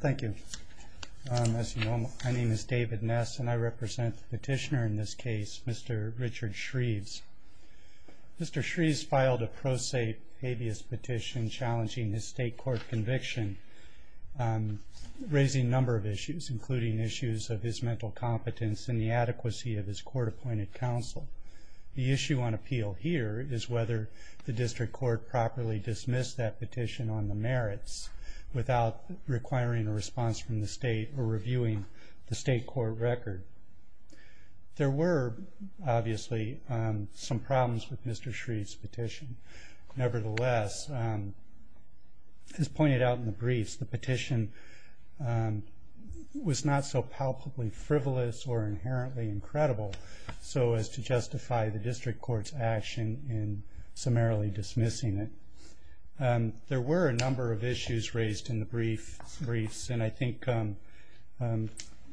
Thank you. As you know, my name is David Ness, and I represent the petitioner in this case, Mr. Richard Shreves. Mr. Shreves filed a pro se habeas petition challenging his state court conviction, raising a number of issues, including issues of his mental competence and the adequacy of his court-appointed counsel. The issue on appeal here is whether the district court properly dismissed that petition on the merits without requiring a response from the state or reviewing the state court record. There were, obviously, some problems with Mr. Shreves' petition. Nevertheless, as pointed out in the briefs, the petition was not so palpably frivolous or inherently incredible so as to justify the district court's action in summarily dismissing it. There were a number of issues raised in the briefs, and I think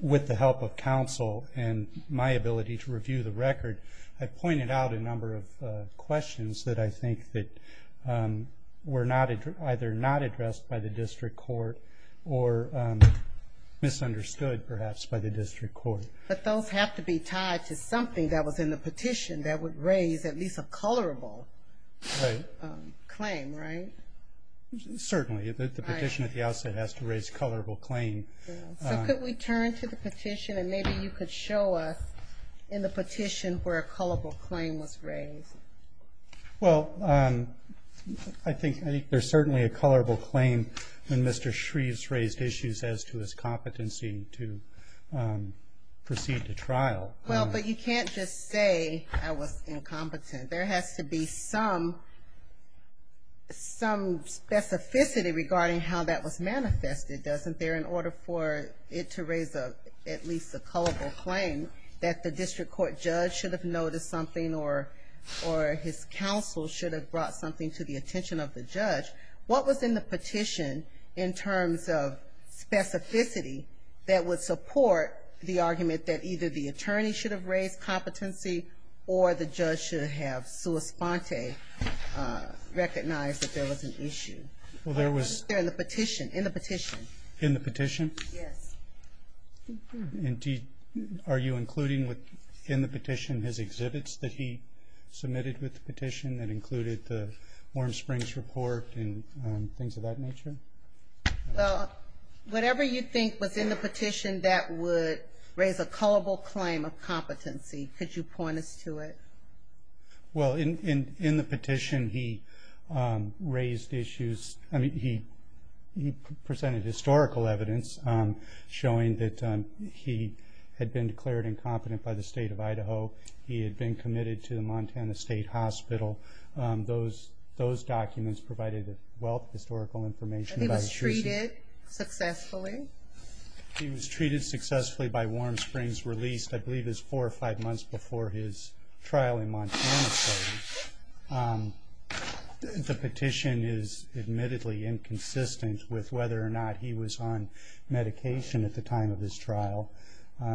with the help of counsel and my ability to review the record, I pointed out a number of questions that I think were either not addressed by the district court or misunderstood, perhaps, by the district court. But those have to be tied to something that was in the petition that would raise at least a colorable claim, right? Certainly. The petition at the outset has to raise a colorable claim. So could we turn to the petition, and maybe you could show us in the petition where a colorable claim was raised? Well, I think there's certainly a colorable claim in Mr. Shreves' raised issues as to his competency to proceed to trial. Well, but you can't just say I was incompetent. There has to be some specificity regarding how that was manifested, doesn't there? In order for it to raise at least a colorable claim that the district court judge should have noticed something or his counsel should have brought something to the attention of the judge, what was in the petition in terms of specificity that would support the argument that either the attorney should have raised competency or the judge should have sua sponte recognized that there was an issue? In the petition. Are you including in the petition his exhibits that he submitted with the petition that included the Warm Springs report and things of that nature? Well, whatever you think was in the petition that would raise a colorable claim of competency, could you point us to it? Well, in the petition he presented historical evidence showing that he had been declared incompetent by the state of Idaho. He had been committed to the Montana State Hospital. He was treated successfully? He was treated successfully by Warm Springs, released I believe it was four or five months before his trial in Montana State. The petition is admittedly inconsistent with whether or not he was on medication at the time of his trial.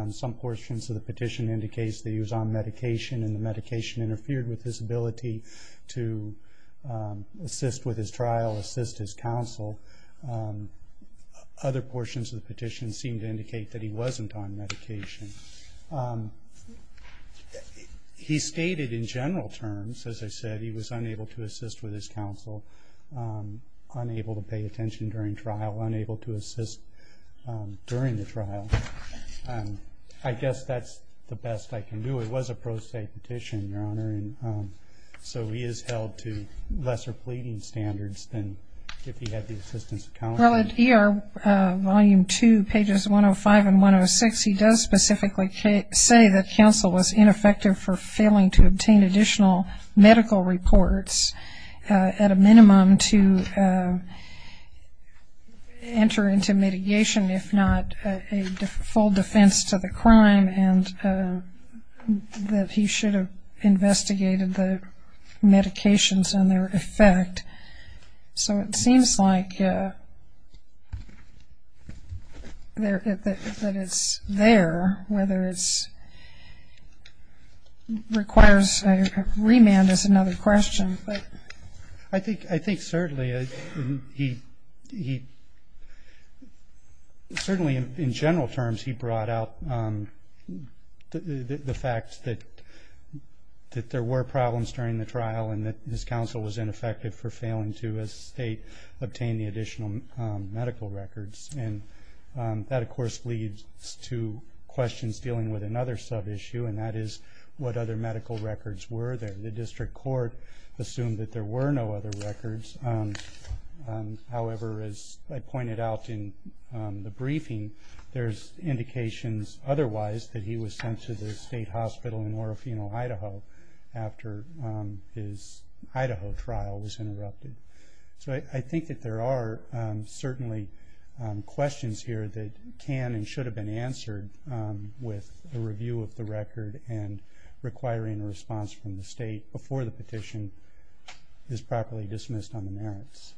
Some portions of the petition indicates that he was on medication and the medication interfered with his ability to assist with his trial, assist his counsel. Other portions of the petition seem to indicate that he wasn't on medication. He stated in general terms, as I said, he was unable to assist with his counsel, unable to pay attention during trial, unable to assist during the trial. I guess that's the best I can do. Well, it was a pro-state petition, Your Honor, and so he is held to lesser pleading standards than if he had the assistance of counsel. Well, at ER Volume 2, pages 105 and 106, he does specifically say that counsel was ineffective for failing to obtain additional medical reports at a minimum to enter into mitigation, if not a full defense to the crime. And that he should have investigated the medications and their effect. So it seems like that it's there, whether it requires a remand is another question. I think certainly he, certainly in general terms, he brought out the fact that he was not on medication. He stressed that there were problems during the trial and that his counsel was ineffective for failing to, as a state, obtain the additional medical records. And that, of course, leads to questions dealing with another sub-issue, and that is, what other medical records were there? The district court assumed that there were no other records. However, as I pointed out in the briefing, there's indications otherwise that he was sent to the state hospital for treatment. He was also in Orofino, Idaho after his Idaho trial was interrupted. So I think that there are certainly questions here that can and should have been answered with a review of the record and requiring a response from the state before the petition is properly dismissed on the merits.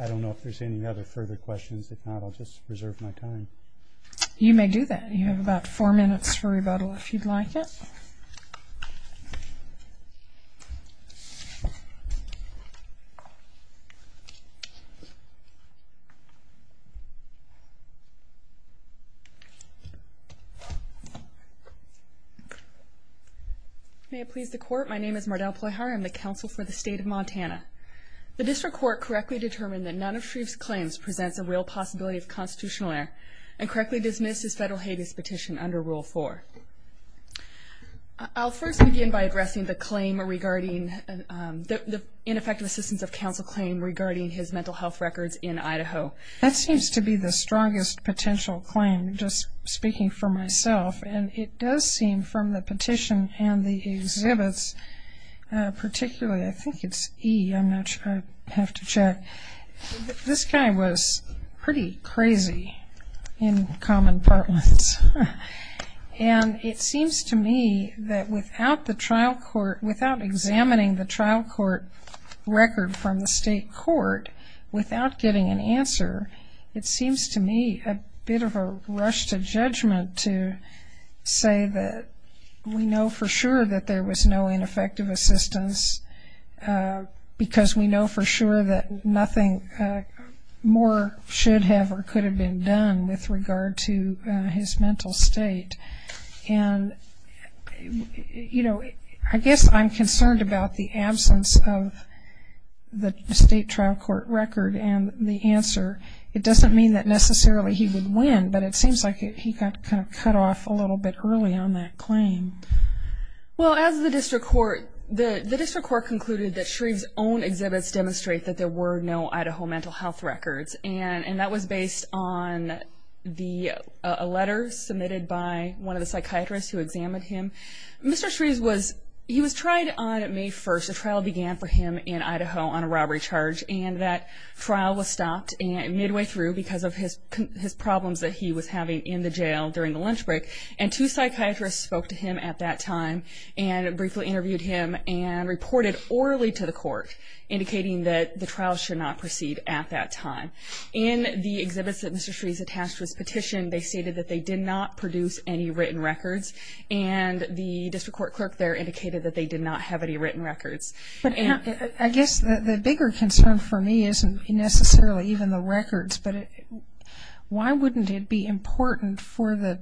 I don't know if there's any other further questions. If not, I'll just reserve my time. You may do that. You have about four minutes for rebuttal, if you'd like it. May it please the Court, my name is Mardell Ployhauer. I'm the counsel for the state of Montana. The district court correctly determined that none of Shreve's claims presents a real possibility of constitutional error and correctly dismissed his federal habeas petition under Rule 4. I'll first begin by addressing the claim regarding, the ineffective assistance of counsel claim regarding his mental health records in Idaho. That seems to be the strongest potential claim, just speaking for myself. And it does seem from the petition and the exhibits, particularly, I think it's E, I'm not sure, I'd have to check. This guy was pretty crazy in common part ones. And it seems to me that without examining the trial court record from the state court without getting an answer, it seems to me a bit of a rush to judgment to say that we know for sure that there was no ineffective assistance because we know for sure that nothing more should have or could have been done with regard to his mental state. And, you know, I guess I'm concerned about the absence of the state trial court record and the answer. It doesn't mean that necessarily he would win, but it seems like he got kind of cut off a little bit early on that claim. Well, as the district court, the district court concluded that Shreve's own exhibits demonstrate that there were no Idaho mental health records. And that was based on a letter submitted by one of the psychiatrists who examined him. Mr. Shreve was, he was tried on May 1st, the trial began for him in Idaho on a robbery charge. And that trial was stopped midway through because of his problems that he was having in the jail during the lunch break. And two psychiatrists spoke to him at that time and briefly interviewed him and reported orally to the court, indicating that the trial should not proceed at that time. In the exhibits that Mr. Shreve's attached to his petition, they stated that they did not produce any written records. And the district court clerk there indicated that they did not have any written records. But I guess the bigger concern for me isn't necessarily even the records, but why wouldn't it be important for the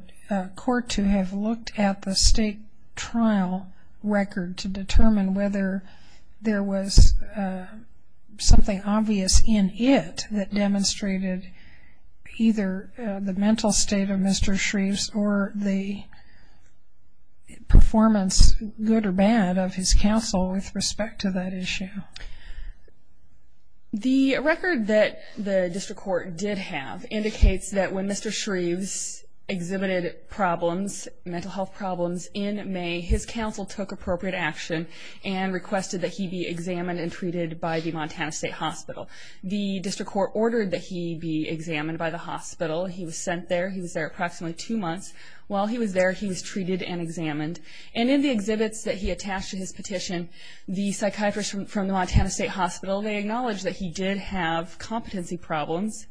court to have looked at the state trial record to determine whether there was something obvious in it that demonstrated either the mental state of Mr. Shreve's or the performance, good or bad, of his counsel with respect to his mental health? And what is the record that the district court did have indicates that when Mr. Shreve's exhibited problems, mental health problems, in May, his counsel took appropriate action and requested that he be examined and treated by the Montana State Hospital. The district court ordered that he be examined by the hospital. He was sent there. He was there approximately two months. While he was there, he was treated and examined. And in the exhibits that he attached to his petition, the psychiatrists from the Montana State Hospital, they acknowledged that he did have competency problems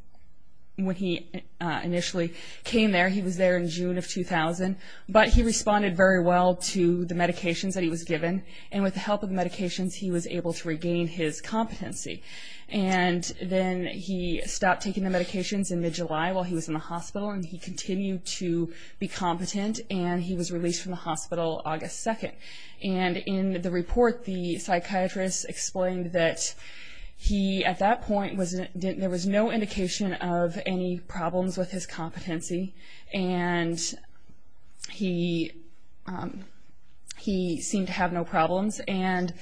when he initially came there. He was there in June of 2000, but he responded very well to the medications that he was given. And with the help of medications, he was able to regain his competency. And then he stopped taking the medications in mid-July while he was in the hospital, and he continued to be competent, and he was released from the hospital in June of 2000. And he was released from the hospital in June of 2000 until August 2nd. And in the report, the psychiatrists explained that he, at that point, there was no indication of any problems with his competency, and he seemed to have no problems. And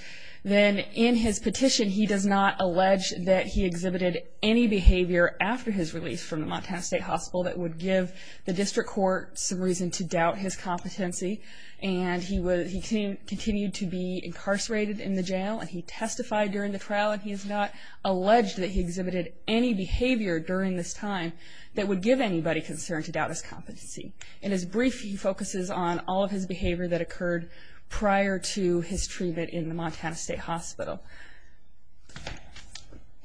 then in his petition, he does not allege that he exhibited any behavior after his release from the Montana State Hospital that would give the district court some reason to doubt his competency. And he continued to be incarcerated in the jail, and he testified during the trial, and he has not alleged that he exhibited any behavior during this time that would give anybody concern to doubt his competency. In his brief, he focuses on all of his behavior that occurred prior to his treatment in the Montana State Hospital.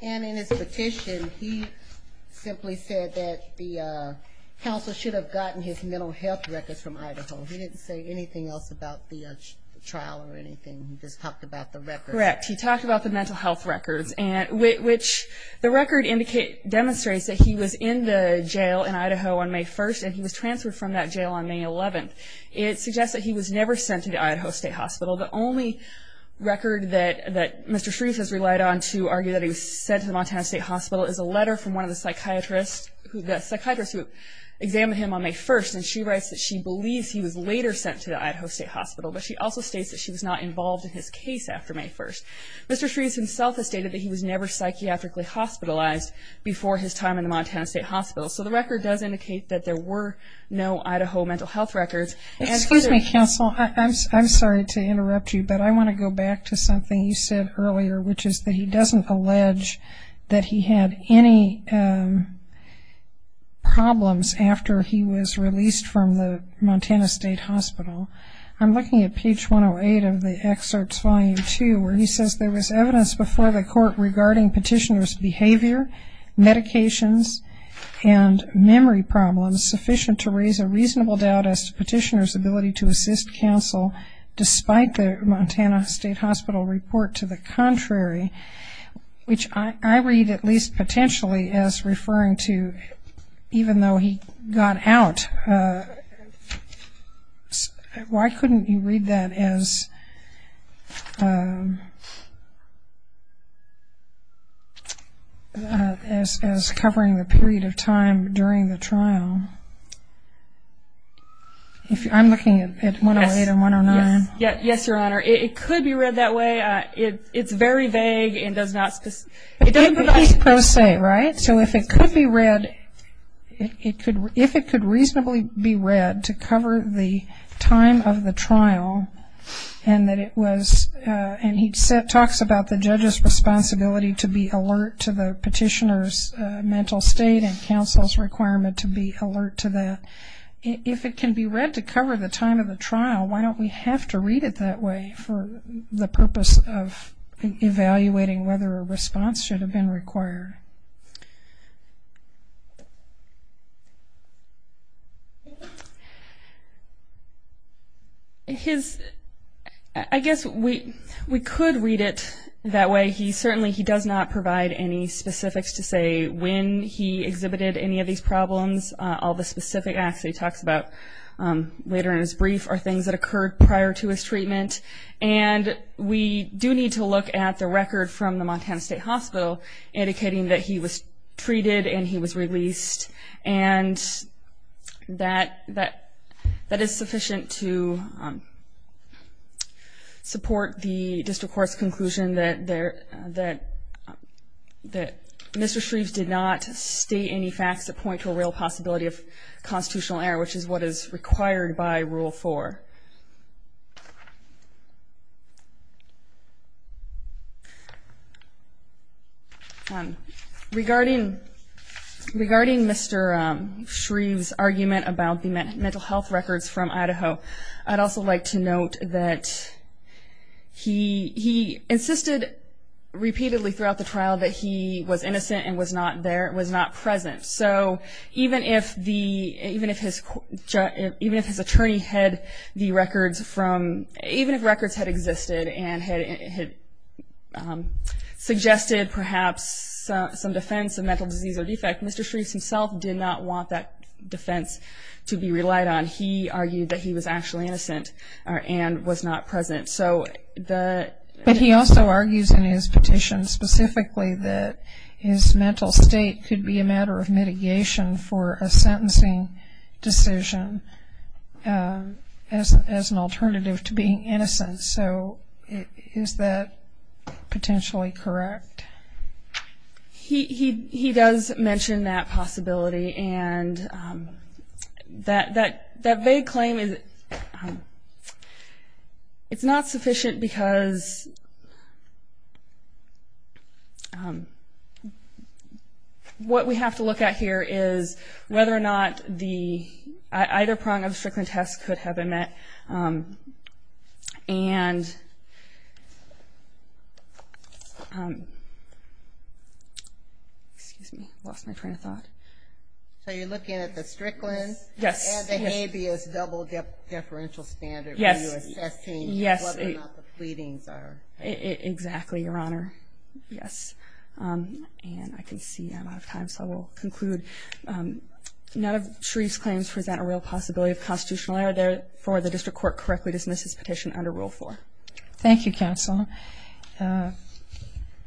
And in his petition, he simply said that the council should have gotten his mental health records from Idaho. He didn't say anything else about that. He didn't say anything about the trial or anything. He just talked about the records. Correct. He talked about the mental health records, which the record demonstrates that he was in the jail in Idaho on May 1st, and he was transferred from that jail on May 11th. It suggests that he was never sent to the Idaho State Hospital. The only record that Mr. Shruth has relied on to argue that he was sent to the Montana State Hospital is a letter from one of the psychiatrists who examined him on May 1st, and she writes that she believes he was later sent to the Idaho State Hospital. But she also states that she was not involved in his case after May 1st. Mr. Shruth himself has stated that he was never psychiatrically hospitalized before his time in the Montana State Hospital. So the record does indicate that there were no Idaho mental health records. Excuse me, counsel. I'm sorry to interrupt you, but I want to go back to something you said earlier, which is that he doesn't allege that he had any problems after he was released from the Montana State Hospital. I'm looking at page 108 of the excerpts, volume 2, where he says there was evidence before the court regarding petitioner's behavior, medications, and memory problems, sufficient to raise a reasonable doubt as to petitioner's ability to assist counsel, despite the Montana State Hospital report to the contrary, which I read at least potentially as referring to even though he got out of the state hospital, he was still in the state hospital. Why couldn't you read that as covering the period of time during the trial? I'm looking at 108 and 109. Yes, Your Honor. It could be read that way. It's very vague and does not specify. It's pro se, right? So if it could be read, if it could reasonably be read to cover the time during the trial, it would be a reasonable doubt. But if it could be read to cover the time of the trial and that it was, and he talks about the judge's responsibility to be alert to the petitioner's mental state and counsel's requirement to be alert to that, if it can be read to cover the time of the trial, why don't we have to read it that way for the purpose of evaluating whether a response should have been required? His, I guess we could read it that way. He certainly, he does not provide any specifics to say when he exhibited any of these problems. All the specific acts he talks about later in his brief are things that occurred prior to his treatment. And we do need to look at the record from the Montana State Hospital indicating that he was treated and he was released and that is sufficient to say that he was treated and he was released. And we do need to support the district court's conclusion that Mr. Shreves did not state any facts that point to a real possibility of constitutional error, which is what is required by Rule 4. Regarding Mr. Shreves' argument about the mental health records from Idaho, I do not believe that Mr. Shreves' argument about the mental health records from Idaho is true. I'd also like to note that he insisted repeatedly throughout the trial that he was innocent and was not there, was not present. So even if his attorney had the records from, even if records had existed and had suggested perhaps some defense of mental disease or defect, Mr. Shreves himself did not want that defense to be relied on. He argued that he was actually innocent and was not present. But he also argues in his petition specifically that his mental state could be a matter of mitigation for a sentencing decision as an alternative to being innocent. So is that potentially correct? He does mention that possibility, and that vague claim is not sufficient because what we have to look at here is whether or not the either prong of the strickland test could have been met. And I don't think that Mr. Shreves' argument about the mental health records from Idaho is true. I think that Mr. Shreves' argument about the mental health records from Idaho is true. Excuse me, I lost my train of thought. So you're looking at the strickland? Yes. And the habeas double deferential standard? Yes. When you're assessing whether or not the pleadings are? Exactly, Your Honor. Yes. And I can see I'm out of time, so I will conclude. None of Shreves' claims present a real possibility of constitutional error. Therefore, the district court correctly dismissed his petition under Rule 4. Thank you, counsel.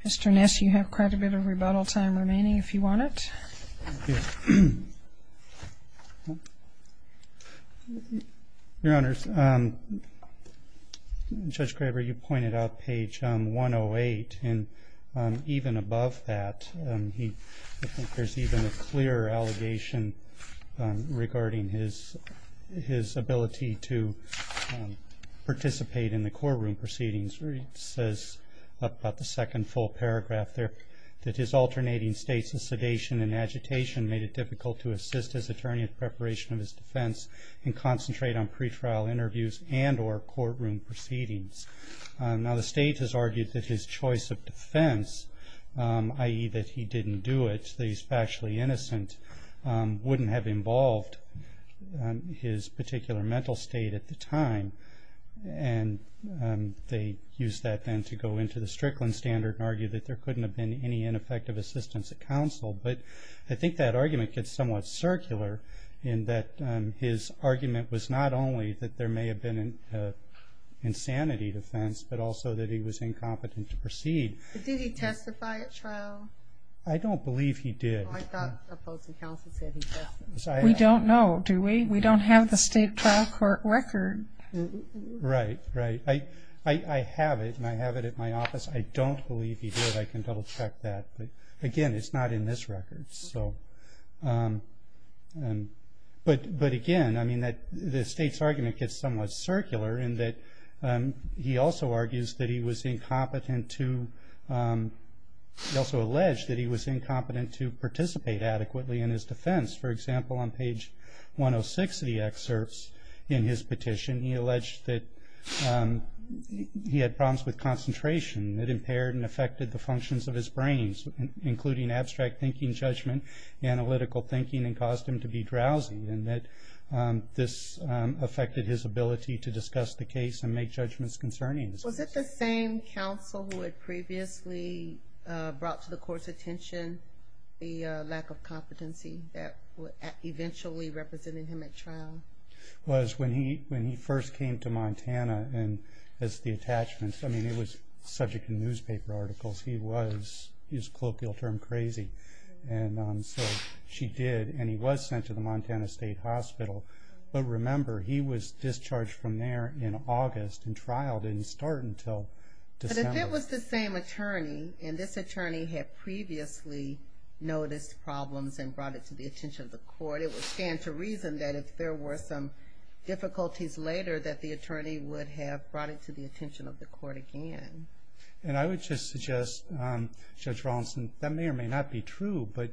Mr. Ness, you have quite a bit of rebuttal time remaining, if you want it. Your Honor, Judge Graber, you pointed out page 108, and even above that, I think there's even a clearer allegation regarding his ability to participate in the courtroom proceedings. It says about the second full paragraph there, that his alternating states of sedation and agitation made it difficult to assist his attorney in preparation of his defense and concentrate on pre-trial interviews and or courtroom proceedings. Now, the state has argued that his choice of defense, i.e. that he didn't do it, that he's factually innocent, wouldn't have involved his particular mental state at the time. And they used that then to go into the strickland standard and argued that there couldn't have been any ineffective assistance at counsel. But I think that argument gets somewhat circular in that his argument was not only that there may have been an insanity defense, but also that he was incompetent to proceed. Did he testify at trial? I don't believe he did. I thought the opposing counsel said he doesn't. We don't know, do we? We don't have the state trial court record. Right, right. I have it, and I have it at my office. I don't believe he did. I can double check that. But again, it's not in this record. But again, the state's argument gets somewhat circular in that he also argues that he was incompetent to, he also alleged that he was incompetent to participate adequately in his defense. For example, on page 106 of the excerpts in his petition, he alleged that he had problems with concentration that impaired and affected the functions of his brain, including abstract thinking, judgment, analytical thinking, and caused him to be drowsy. And that this affected his ability to discuss the case and make judgments concerning it. Was it the same counsel who had previously brought to the court's attention the lack of competency that would eventually represent him at trial? It was when he first came to Montana as the attachments. I mean, it was subject to newspaper articles. He was, to use a colloquial term, crazy. And so she did, and he was sent to the Montana State Hospital. But remember, he was discharged from there in August, and trial didn't start until December. But if it was the same attorney, and this attorney had previously noticed problems and brought it to the attention of the court, it would stand to reason that if there were some difficulties later, that the attorney would have brought it to the attention of the court again. And I would just suggest, Judge Rawlinson, that may or may not be true, but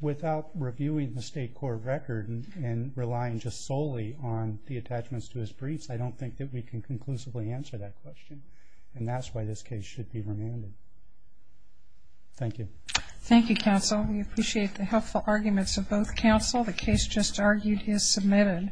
without reviewing the state court record and relying just solely on the attachments to his briefs, I don't think that we can conclusively answer that question. And that's why this case should be remanded. Thank you. Thank you, counsel. We appreciate the helpful arguments of both counsel. The case just argued is submitted.